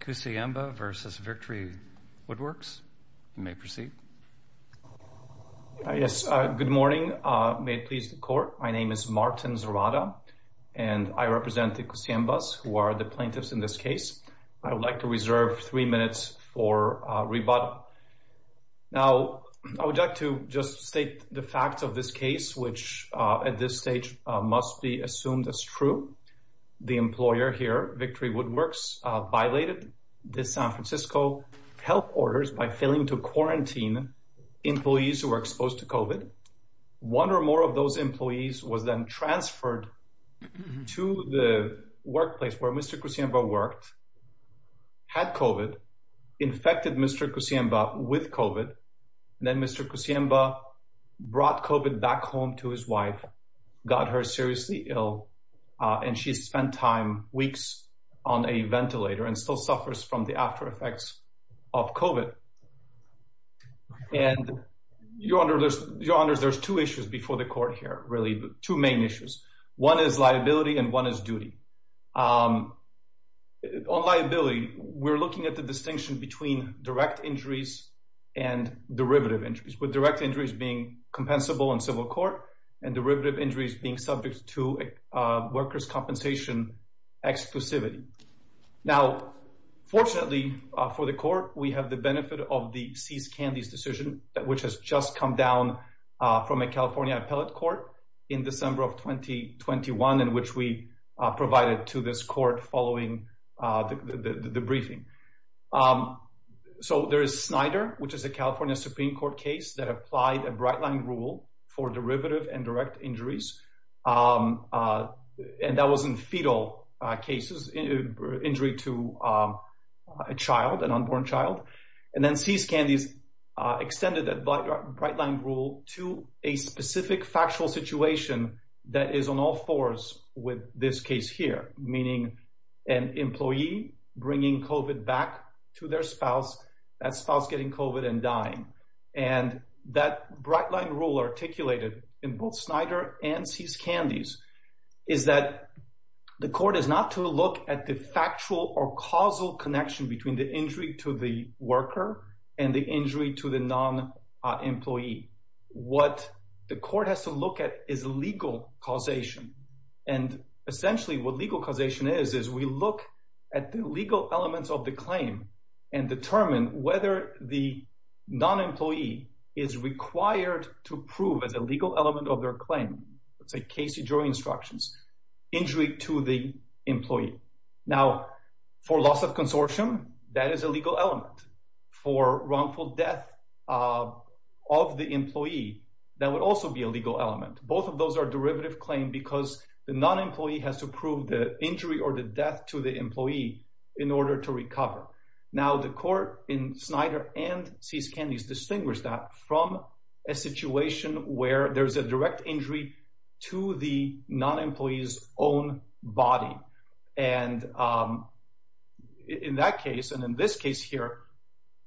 Kuciemba v. Victory Woodworks. You may proceed. Yes, good morning. May it please the court. My name is Martin Zorada and I represent the Kuciembas who are the plaintiffs in this case. I would like to reserve three minutes for rebuttal. Now, I would like to just state the facts of this case, which at this stage must be assumed as true. The employer here, Victory Woodworks, violated the San Francisco health orders by failing to quarantine employees who were exposed to COVID. One or more of those employees was then transferred to the workplace where Mr. Kuciemba worked, had COVID, infected Mr. Kuciemba with COVID, and then Mr. Kuciemba brought COVID back home to his wife, got her seriously ill, and she spent time, weeks, on a ventilator and still suffers from the aftereffects of COVID. And, Your Honors, there's two issues before the court here, really, two main issues. One is liability and one is duty. On liability, we're looking at the distinction between direct injuries and derivative injuries, with direct injuries being compensable in civil workers' compensation exclusivity. Now, fortunately for the court, we have the benefit of the Cease Candies decision, which has just come down from a California appellate court in December of 2021, in which we provided to this court following the briefing. So there is Snyder, which is a California Supreme Court case that applied a bright-line rule for derivative and direct injuries, and that was in fetal cases, injury to a child, an unborn child. And then Cease Candies extended that bright-line rule to a specific factual situation that is on all fours with this case here, meaning an employee bringing COVID back to their spouse, that spouse getting COVID and dying. And that bright-line rule articulated in both Snyder and Cease Candies is that the court is not to look at the factual or causal connection between the injury to the worker and the injury to the non-employee. What the court has to look at is legal causation. And essentially what legal causation is, is we look at the legal elements of the claim and determine whether the non-employee is required to prove as a legal element of their claim, let's say Casey jury instructions, injury to the employee. Now, for loss of consortium, that is a legal element. For wrongful death of the employee, that would also be a legal element. Both of those are derivative claim because the non-employee has to prove the injury or the death to the employee in order to recover. Now the court in Snyder and Cease Candies distinguish that from a situation where there's a direct injury to the non-employees own body. And in that case, and in this case here,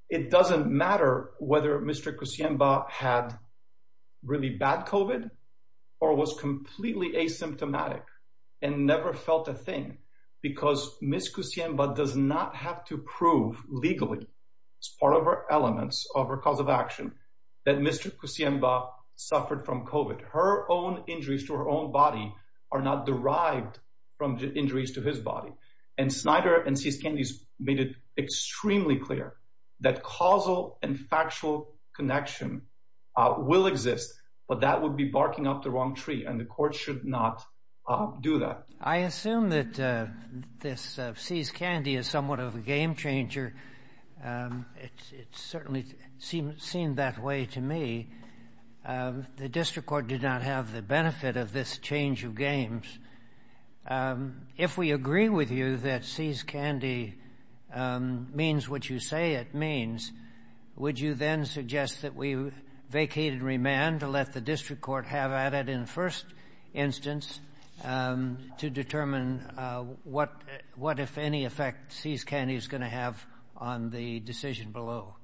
it doesn't matter whether Mr. had really bad COVID or was completely asymptomatic and never felt a thing Kusiemba does not have to prove legally as part of our elements of our cause of action that Mr. Kusiemba suffered from COVID. Her own injuries to her own body are not derived from injuries to his body. And Snyder and Cease Candies made it extremely clear that causal and factual connection will exist, but that would be barking up the wrong tree. And the court should not do that. I assume that this Cease Candy is somewhat of a game changer. It's certainly seemed that way to me. The district court did not have the benefit of this change of games. If we agree with you that Cease Candy means what you say it means, would you then suggest that we vacate and remand to let the district court have at it in first instance to determine what if any effect Cease Candy is going to have on the decision below?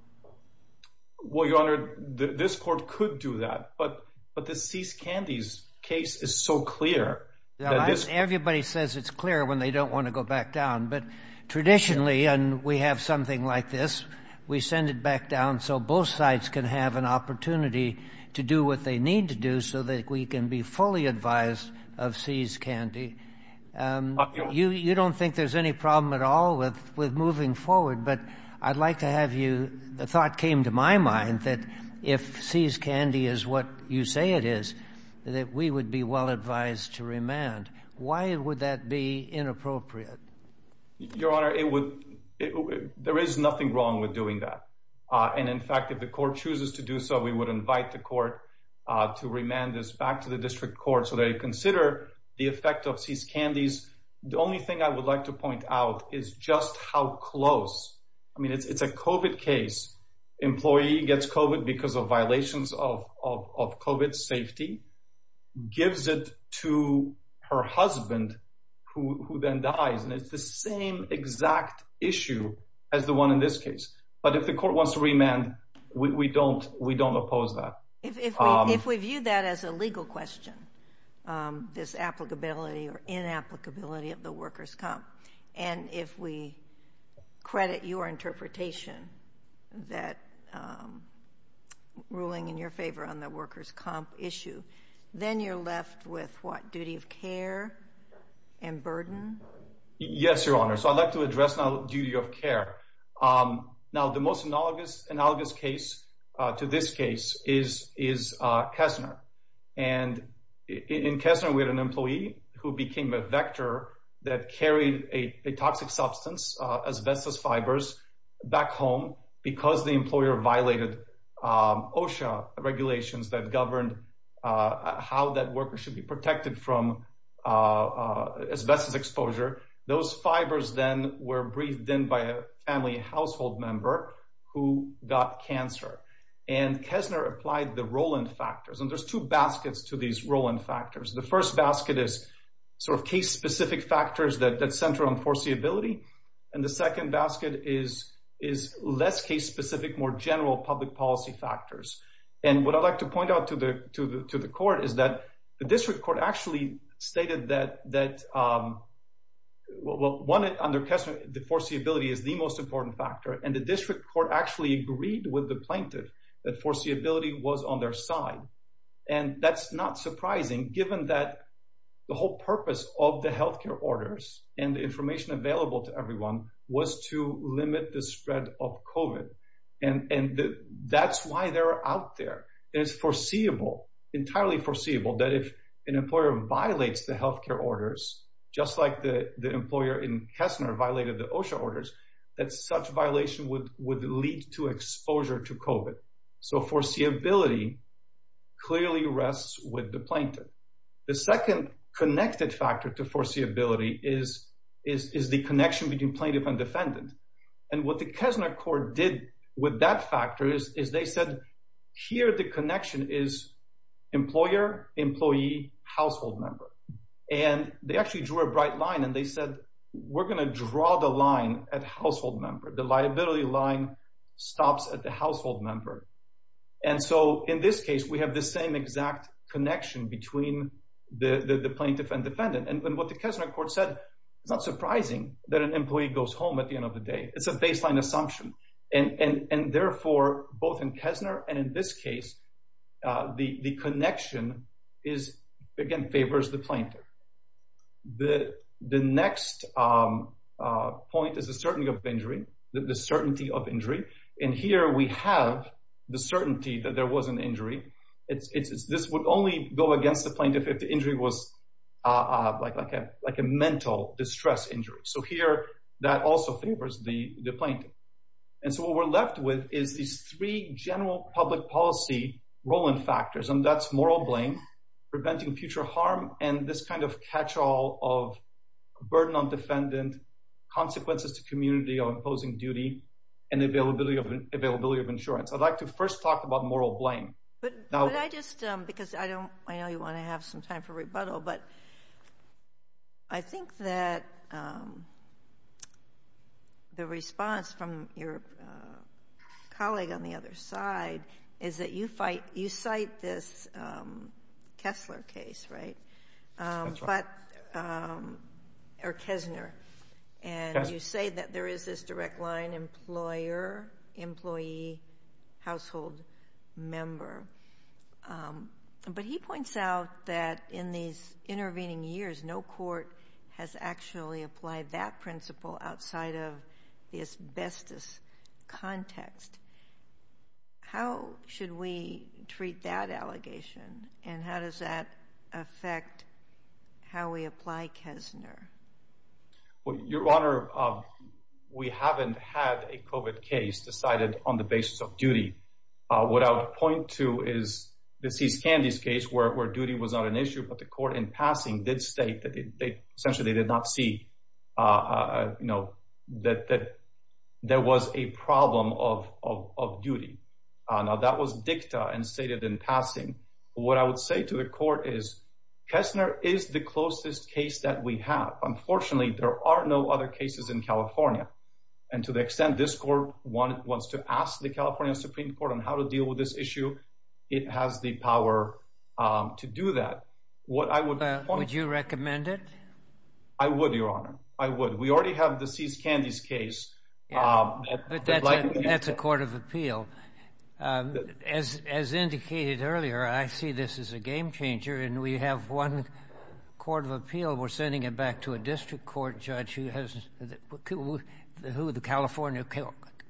Well, Your Honor, this court could do that, but the Cease Candies case is so clear. Everybody says it's clear when they don't want to go back down. But traditionally, and we have something like this, we send it back down. So both sides can have an opportunity to do what they need to do so that we can be fully advised of Cease Candy. You don't think there's any problem at all with with moving forward. But I'd like to have you. The thought came to my mind that if Cease Candy is what you say it is, that we would be well advised to remand. Why would that be inappropriate? Your Honor, it would. There is nothing wrong with doing that. And in fact, if the court chooses to do so, we would invite the court to remand this back to the district court so they consider the effect of Cease Candies. The only thing I would like to point out is just how close. I mean, it's a COVID case. Employee gets COVID because of violations of COVID safety, gives it to her husband who then dies. And it's the same exact issue as the one in this case. But if the court wants to remand, we don't we don't oppose that. If we view that as a legal question, this applicability or inapplicability of the workers' comp, and if we credit your interpretation that ruling in your favor on the workers' comp issue, then you're left with what duty of care and burden? Yes, Your Honor. So I'd like to address now duty of care. Now, the most analogous analogous case to this case is is Kessner. And in Kessner, we had an employee who became a vector that carried a toxic substance, asbestos fibers, back home because the employer violated OSHA regulations that governed how that worker should be protected from asbestos exposure. Those fibers then were breathed in by a family household member who got cancer. And Kessner applied the Roland factors. And there's two baskets to these Roland factors. The first basket is sort of case-specific factors that center on foreseeability. And the second basket is is less case-specific, more general public policy factors. And what I'd like to point out to the to the to the court is that the one under Kessner, the foreseeability is the most important factor. And the district court actually agreed with the plaintiff that foreseeability was on their side. And that's not surprising, given that the whole purpose of the health care orders and the information available to everyone was to limit the spread of COVID. And that's why they're out there. And it's foreseeable, entirely foreseeable, that if an employer violates the the employer in Kessner violated the OSHA orders, that such violation would would lead to exposure to COVID. So foreseeability clearly rests with the plaintiff. The second connected factor to foreseeability is is the connection between plaintiff and defendant. And what the Kessner court did with that factor is they said here the connection is employer, employee, household member. And they actually drew a bright line and they said, we're going to draw the line at household member. The liability line stops at the household member. And so in this case, we have the same exact connection between the plaintiff and defendant. And what the Kessner court said, it's not surprising that an employee goes home at the end of the day. It's a baseline assumption. And therefore, both in Kessner and in this case, the connection is, again, favors the plaintiff. The next point is the certainty of injury, the certainty of injury. And here we have the certainty that there was an injury. It's this would only go against the plaintiff if the injury was like a like a mental distress injury. So here that also favors the plaintiff. And so what we're left with is these three general public policy rolling factors. And that's moral blame, preventing future harm and this kind of catch all of burden on defendant, consequences to community or imposing duty and availability of availability of insurance. I'd like to first talk about moral blame. But I just because I don't I know you want to have some time for rebuttal, but I think that the response from your colleague on the other side is that you fight you cite this Kessler case, right? But or Kessner, and you say that there is this direct line employer, employee, household member. But he points out that in these intervening years, no court has actually applied that allegation. And how does that affect how we apply Kessner? Your Honor, we haven't had a COVID case decided on the basis of duty. What I would point to is the C.S. Candy's case where duty was not an issue. But the court in passing did state that they essentially did not see, you know, that that there was a problem of of duty. Now, that was dicta and stated in passing. What I would say to the court is Kessler is the closest case that we have. Unfortunately, there are no other cases in California. And to the extent this court wants to ask the California Supreme Court on how to deal with this issue, it has the power to do that. What I would. Would you recommend it? I would, Your Honor. I would. We already have the C.S. Candy's case. That's a court of appeal. As as indicated earlier, I see this as a game changer and we have one court of appeal. We're sending it back to a district court judge who has who the California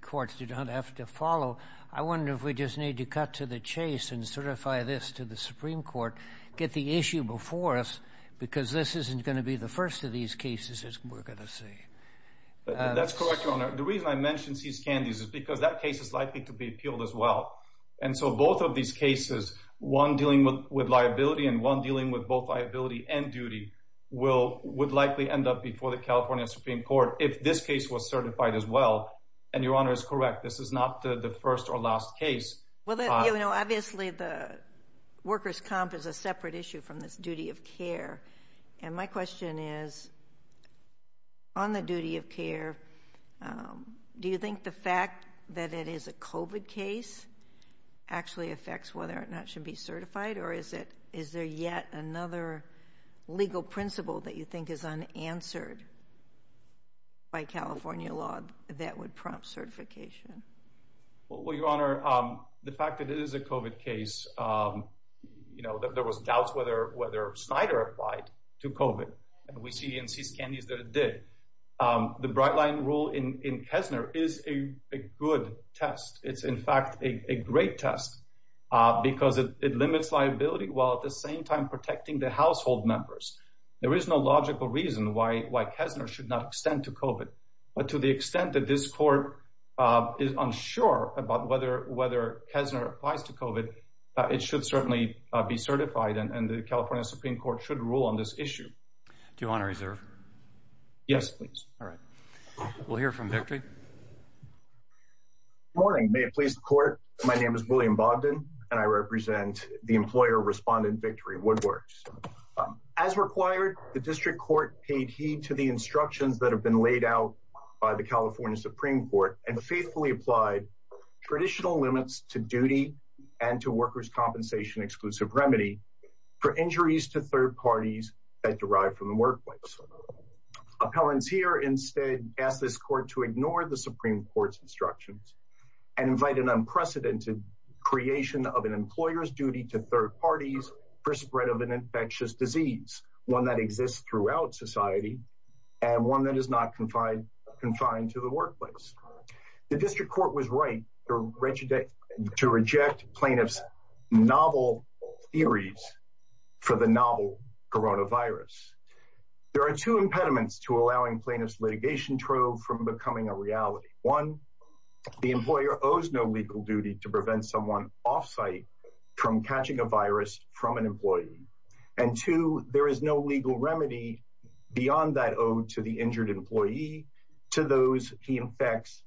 courts do not have to follow. I wonder if we just need to cut to the chase and certify this to the Supreme Court, get the issue before us, because this isn't going to be the first of these cases, as we're going to see. That's correct, Your Honor. The reason I mentioned C.S. Candy's is because that case is likely to be appealed as well. And so both of these cases, one dealing with liability and one dealing with both liability and duty, will would likely end up before the California Supreme Court if this case was certified as well. And Your Honor is correct. This is not the first or last case. Well, you know, obviously the workers comp is a separate issue from this duty of care. And my question is. On the duty of care, do you think the fact that it is a covid case actually affects whether or not should be certified or is it is there yet another legal principle that you think is unanswered? By California law, that would prompt certification. Well, Your Honor, the fact that it is a covid case, you know, there was doubts whether Snyder applied to covid and we see in C.S. Candy's that it did. The bright line rule in Kessner is a good test. It's in fact a great test because it limits liability while at the same time protecting the household members. There is no logical reason why Kessner should not extend to covid. But to the extent that this court is unsure about whether whether Kessner applies to covid, it should certainly be certified. And the California Supreme Court should rule on this issue. Do you want to reserve? Yes, please. All right. We'll hear from victory. Morning, may it please the court. My name is William Bogdan and I represent the employer respondent Victory Woodworks. As required, the district court paid heed to the instructions that have been laid out by the California Supreme Court and faithfully applied traditional limits to duty and to workers' compensation exclusive remedy for injuries to third parties that derive from the workplace. Appellants here instead ask this court to ignore the Supreme Court's instructions and invite an unprecedented creation of an employer's duty to third parties for spread of an infectious disease, one that exists throughout society and one that is not confined to the workplace. The district court was right to reject plaintiff's novel theories for the novel coronavirus. There are two impediments to allowing plaintiff's litigation trove from becoming a reality. One, the employer owes no legal duty to prevent someone off site from catching a virus from an employee. And two, there is no legal remedy beyond that owed to the injured employee to those he infects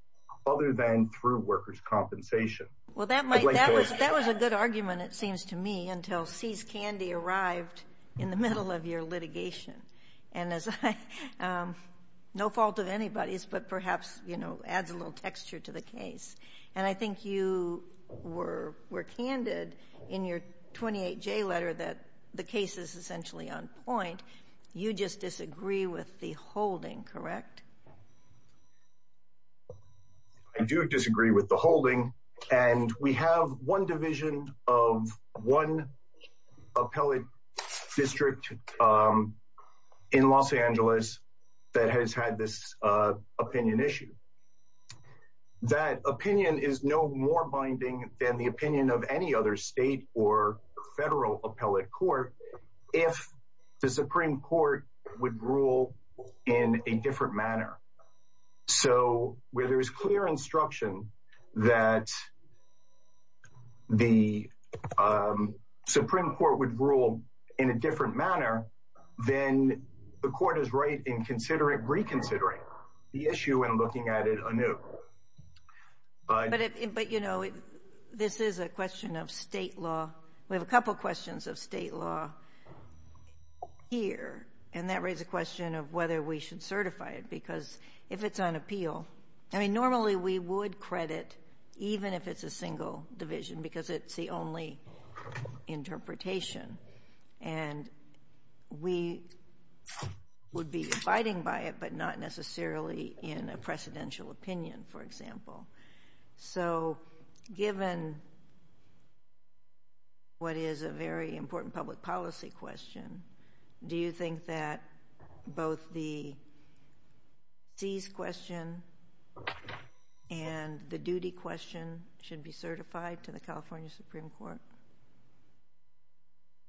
other than through workers' compensation. Well, that might that was that was a good argument, it seems to me, until sees candy arrived in the middle of your litigation. And as no fault of anybody's, but perhaps, you know, adds a little texture to the case. And I think you were were candid in your 28-J letter that the case is essentially on the line. You just disagree with the holding, correct? I do disagree with the holding, and we have one division of one appellate district in Los Angeles that has had this opinion issue. That opinion is no more binding than the opinion of any other state or federal appellate court. If the Supreme Court would rule in a different manner. So where there is clear instruction that. The Supreme Court would rule in a different manner, then the court is right in considering reconsidering the issue and looking at it anew. But if, but, you know, this is a question of State law. We have a couple questions of State law here, and that raises a question of whether we should certify it, because if it's on appeal, I mean, normally we would credit even if it's a single division, because it's the only interpretation. And we would be abiding by it, but not necessarily in a precedential opinion, for example. So given. What is a very important public policy question, do you think that both the. These question and the duty question should be certified to the California Supreme Court.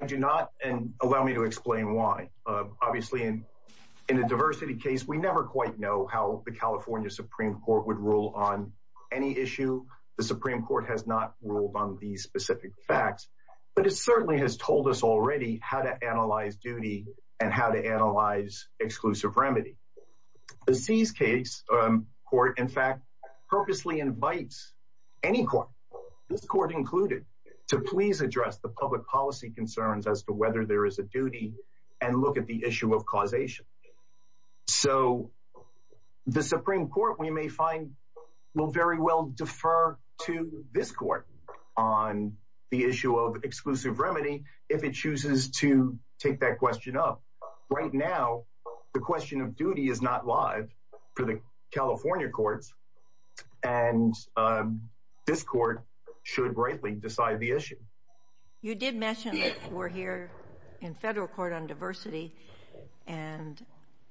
I do not, and allow me to explain why, obviously, in a diversity case, we never quite know how the California Supreme Court would rule on any issue, the Supreme Court has not ruled on these specific facts, but it certainly has told us already how to analyze duty and how to analyze exclusive remedy. The C's case court, in fact, purposely invites any court, this court included, to please address the public policy concerns as to whether there is a duty and look at the issue of causation. So the Supreme Court, we may find will very well defer to this court on the issue of exclusive remedy if it chooses to take that question up right now, the question of duty is not live for the California courts and this court should rightly decide the issue. You did mention that we're here in federal court on diversity and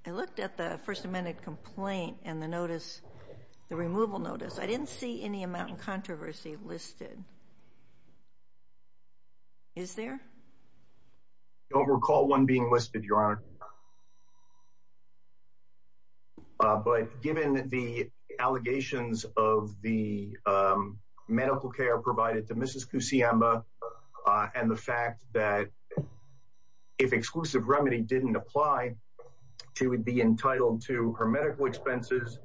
I looked at the First Amendment complaint and the notice, the removal notice, I didn't see any amount of controversy listed. Is there. Don't recall one being listed your honor. I don't recall one being listed your honor, but given that the allegations of the medical care provided to Mrs kusama and the fact that if exclusive remedy didn't apply, she would be entitled to her medical expenses,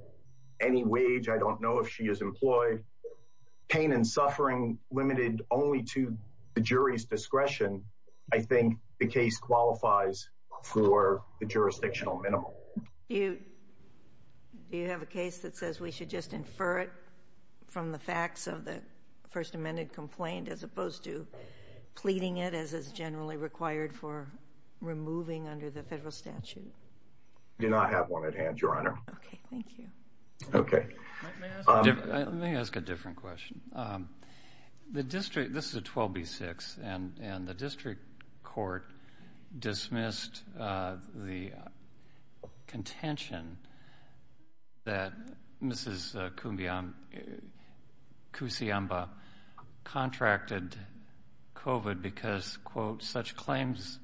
any wage, I don't know if she is employed pain and suffering limited only to the jury's discretion, I think the case qualifies for an exclusive remedy. For the jurisdictional minimum, you do you have a case that says we should just infer it from the facts of the First Amendment complaint as opposed to pleading it as is generally required for removing under the federal statute. Do not have one at hand, your honor. Okay, thank you. Okay. Let me ask a different question. The district, this is a twelve B six and and the district court dismissed the contention that Mrs kusama contracted covid because quote such claims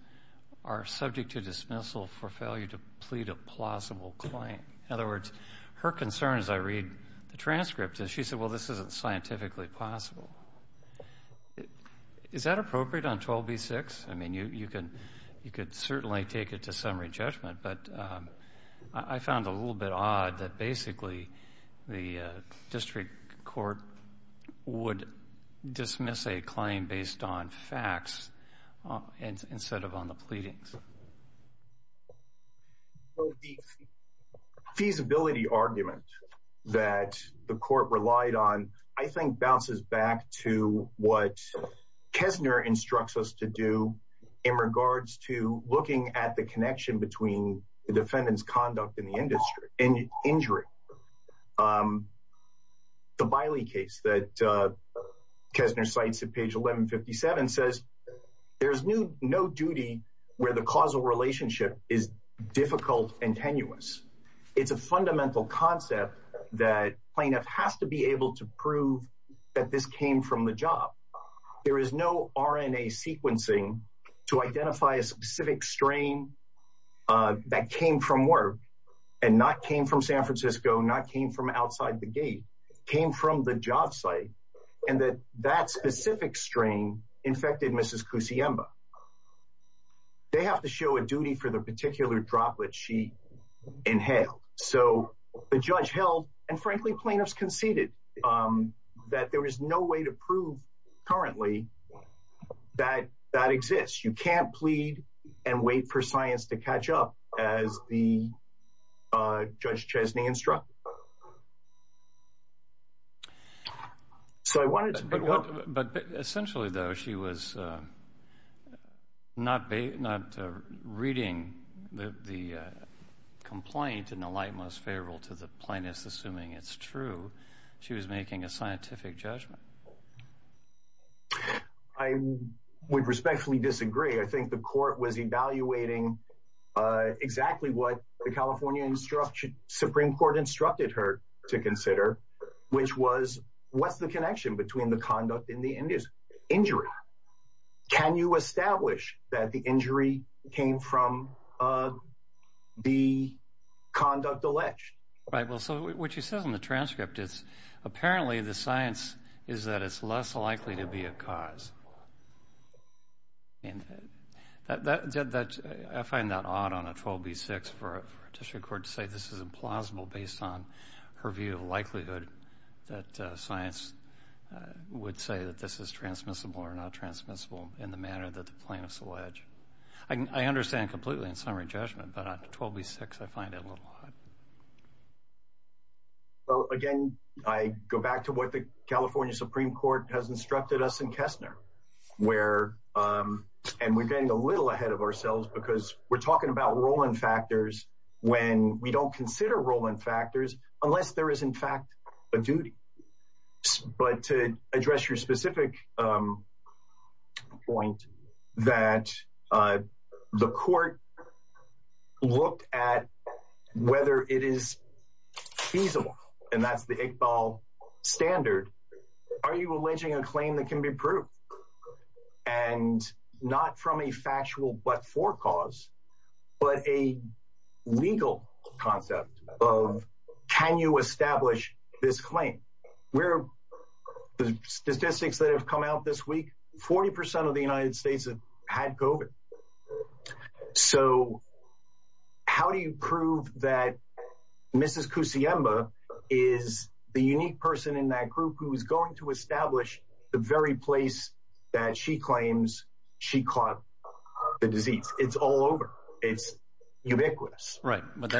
are subject to dismissal for failure to plead a plausible claim. In other words, her concern is, I read the transcript and she said, well, this isn't scientifically possible. Is that appropriate on twelve B six? I mean, you could certainly take it to summary judgment, but I found a little bit odd that basically the district court would dismiss a claim based on facts instead of on the pleadings. Feasibility argument that the court relied on, I think, bounces back to what Kessner instructs us to do in regards to looking at the connection between the defendant's conduct in the industry and injury. Um, the Biley case that Kessner cites at page 1157 says there's no duty where the causal relationship is difficult and tenuous. It's a fundamental concept that plaintiff has to be able to prove that this came from the job. There is no RNA sequencing to identify a specific strain that came from work and not came from San Francisco, not came from outside the gate, came from the job site and that that specific strain infected Mrs. Kusiemba. They have to show a duty for the particular droplet she inhaled. So the judge held and frankly, plaintiffs conceded that there is no way to prove currently that that exists. You can't plead and wait for science to catch up as the judge Chesney instruct. So I wanted to, but essentially, though, she was not not reading the complaint in the light, most favorable to the plaintiffs, assuming it's true, she was making a scientific judgment. I would respectfully disagree. I think the court was evaluating exactly what the California instruction Supreme Court instructed her to consider, which was what's the connection between the conduct in the industry injury? Can you establish that the injury came from the conduct alleged? Right. Well, so what you said in the transcript is apparently the science is that it's less likely to be a cause. And that I find that odd on a 12 B6 for a district court to say this is implausible based on her view of likelihood that science would say that this is transmissible or not transmissible in the manner that the plaintiffs allege. I understand completely in summary judgment, but 12 B6, I find it a little. Well, again, I go back to what the California Supreme Court has instructed us in Kessner, where and we're getting a little ahead of ourselves because we're talking about rolling factors when we don't consider rolling factors unless there is, in fact, a duty. But to address your specific point that the court looked at whether it is feasible and that's the Iqbal standard, are you alleging a claim that can be proved and not from a factual but for cause, but a legal concept of can you establish this claim? Where the statistics that have come out this week, 40 percent of the United States have had COVID. So how do you prove that Mrs. Kusiemba is the unique person in that group who is going to establish the very place that she claims she caught the disease? It's all over. It's ubiquitous. Right. But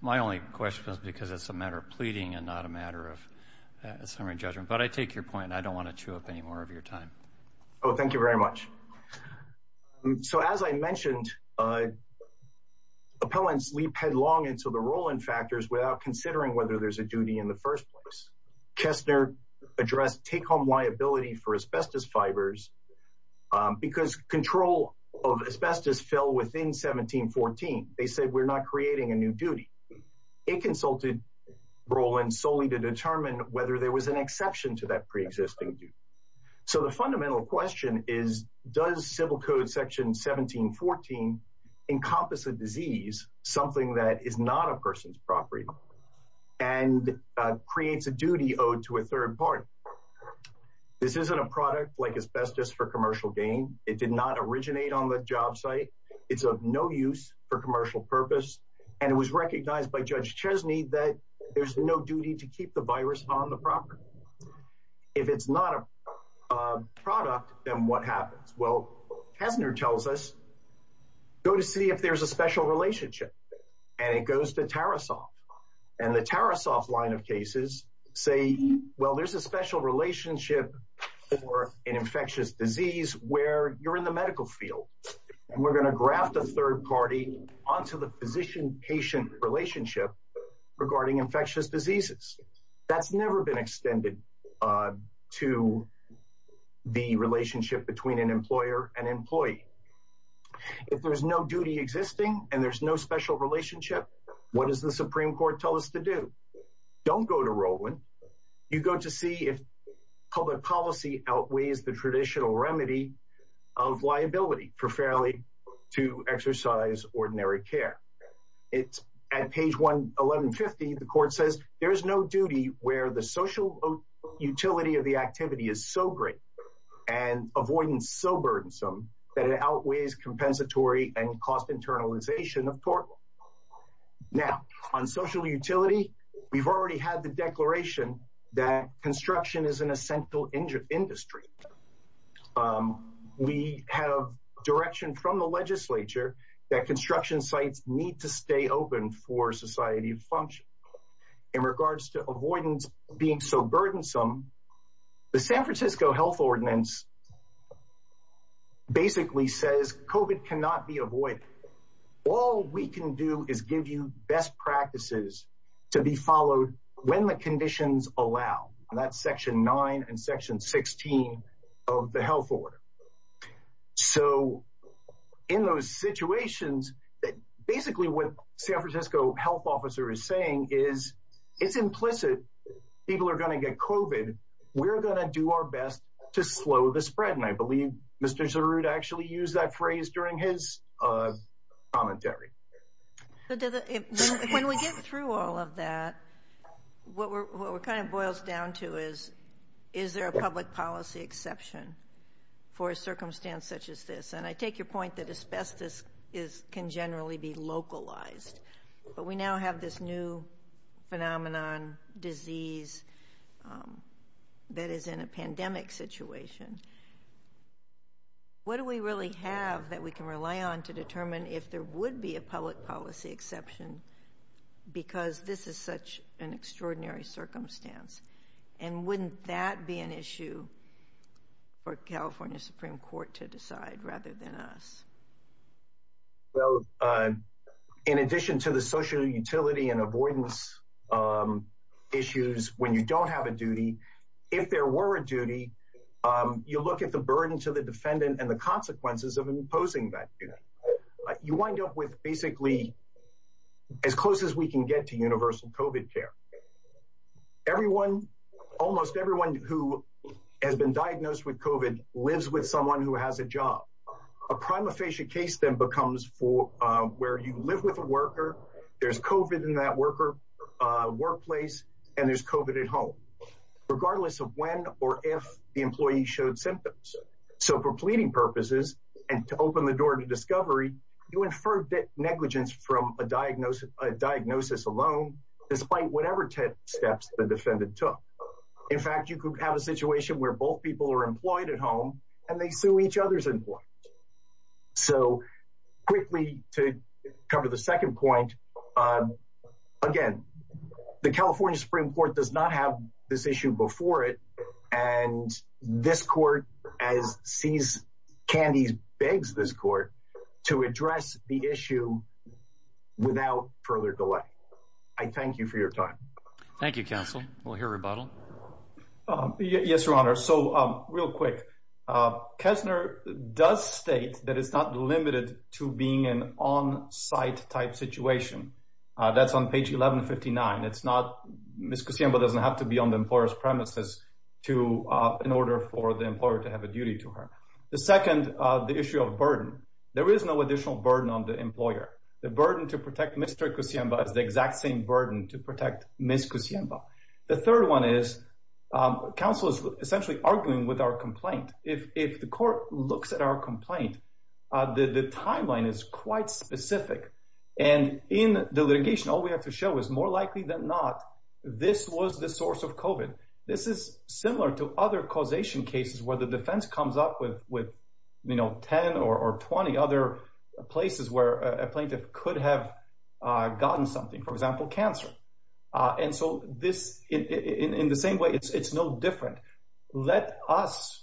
my only question is because it's a matter of pleading and not a matter of summary judgment. But I take your point and I don't want to chew up any more of your time. Oh, thank you very much. So as I mentioned, appellants leap headlong into the rolling factors without considering whether there's a duty in the first place. Kessner addressed take home liability for asbestos fibers because control of asbestos fell within 1714. They said we're not creating a new duty. It consulted Roland solely to determine whether there was an exception to that pre-existing duty. So the fundamental question is, does civil code section 1714 encompass a disease, something that is not a person's property and creates a duty owed to a third party? This isn't a product like asbestos for commercial gain. It did not originate on the job site. It's of no use for commercial purpose. And it was recognized by Judge Chesney that there's no duty to keep the virus on the property. If it's not a product, then what happens? Well, Kessner tells us, go to see if there's a special relationship. And it goes to Tarasoff. And the Tarasoff line of cases say, well, there's a special relationship for an infectious disease where you're in the medical field. And we're going to graft a third party onto the physician-patient relationship regarding infectious diseases. That's never been extended to the relationship between an employer and employee. If there's no duty existing and there's no special relationship, what does the Supreme Court tell us to do? Don't go to Roland. You go to see if public policy outweighs the traditional remedy of liability. Preferably to exercise ordinary care. It's at page 1150. The court says there is no duty where the social utility of the activity is so great and avoidance so burdensome that it outweighs compensatory and cost internalization of tort law. Now, on social utility, we've already had the declaration that construction is an essential industry. We have direction from the legislature that construction sites need to stay open for society to function. In regards to avoidance being so burdensome, the San Francisco Health Ordinance basically says COVID cannot be avoided. All we can do is give you best practices to be followed when the conditions allow. That's section 9 and section 16 of the health order. So in those situations, basically what San Francisco health officer is saying is it's implicit. People are going to get COVID. We're going to do our best to slow the spread. And I believe Mr. Zarud actually used that phrase during his commentary. But when we get through all of that, what we're kind of boils down to is, is there a public policy exception for a circumstance such as this? And I take your point that asbestos is can generally be localized, but we now have this new phenomenon disease that is in a pandemic situation. What do we really have that we can rely on to determine if there would be a public policy exception because this is such an extraordinary circumstance? And wouldn't that be an issue for California Supreme Court to decide rather than us? Well, in addition to the social utility and avoidance issues, when you don't have a duty, if there were a duty, you look at the burden to the defendant and the consequences of imposing that. You wind up with basically as close as we can get to universal COVID care. Everyone, almost everyone who has been diagnosed with COVID lives with someone who has a job. A prima facie case then becomes for where you live with a worker. There's COVID in that worker workplace and there's COVID at home. Regardless of when or if the employee showed symptoms. So for pleading purposes and to open the door to discovery, you inferred negligence from a diagnosis alone, despite whatever steps the defendant took. In fact, you could have a situation where both people are employed at home and they sue each other's employees. So quickly to cover the second point. Again, the California Supreme Court does not have this issue before it. And this court as sees candy begs this court to address the issue without further delay. I thank you for your time. Thank you, counsel. We'll hear rebuttal. Yes, your honor. Real quick. Kessner does state that it's not limited to being an on-site type situation. That's on page 1159. It's not Ms. Cusiemba doesn't have to be on the employer's premises in order for the employer to have a duty to her. The second, the issue of burden. There is no additional burden on the employer. The burden to protect Mr. Cusiemba is the exact same burden to protect Ms. Cusiemba. The third one is counsel is essentially arguing with our complaint. If the court looks at our complaint, the timeline is quite specific. And in the litigation, all we have to show is more likely than not, this was the source of COVID. This is similar to other causation cases where the defense comes up with, you know, 10 or 20 other places where a plaintiff could have gotten something, for example, cancer. And so this in the same way, it's no different. Let us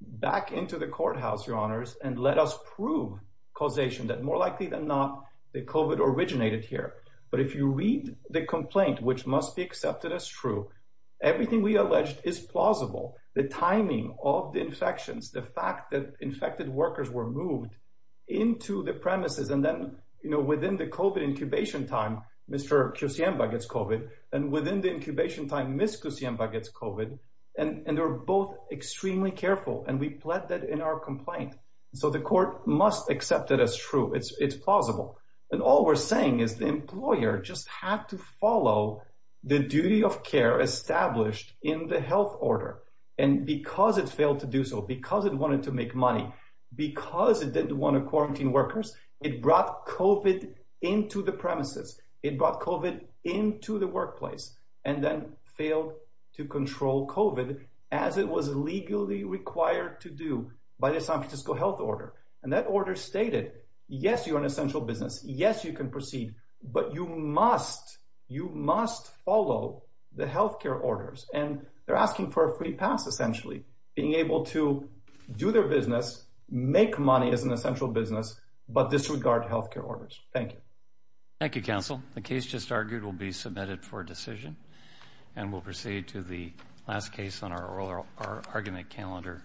back into the courthouse, your honors, and let us prove causation that more likely than not, the COVID originated here. But if you read the complaint, which must be accepted as true, everything we alleged is plausible. The timing of the infections, the fact that infected workers were moved into the premises. And then, you know, within the COVID incubation time, Mr. Cusiemba gets COVID. And within the incubation time, Ms. Cusiemba gets COVID. And they're both extremely careful. And we pled that in our complaint. So the court must accept that as true. It's plausible. And all we're saying is the employer just had to follow the duty of care established in the health order. And because it failed to do so, because it wanted to make money, because it didn't want to quarantine workers, it brought COVID into the premises. It brought COVID into the workplace. And then failed to control COVID as it was legally required to do by the San Francisco health order. And that order stated, yes, you're an essential business. Yes, you can proceed. But you must, you must follow the health care orders. And they're asking for a free pass, essentially. Being able to do their business, make money as an essential business. But disregard health care orders. Thank you. Thank you, counsel. The case just argued will be submitted for decision. And we'll proceed to the last case on our oral argument calendar.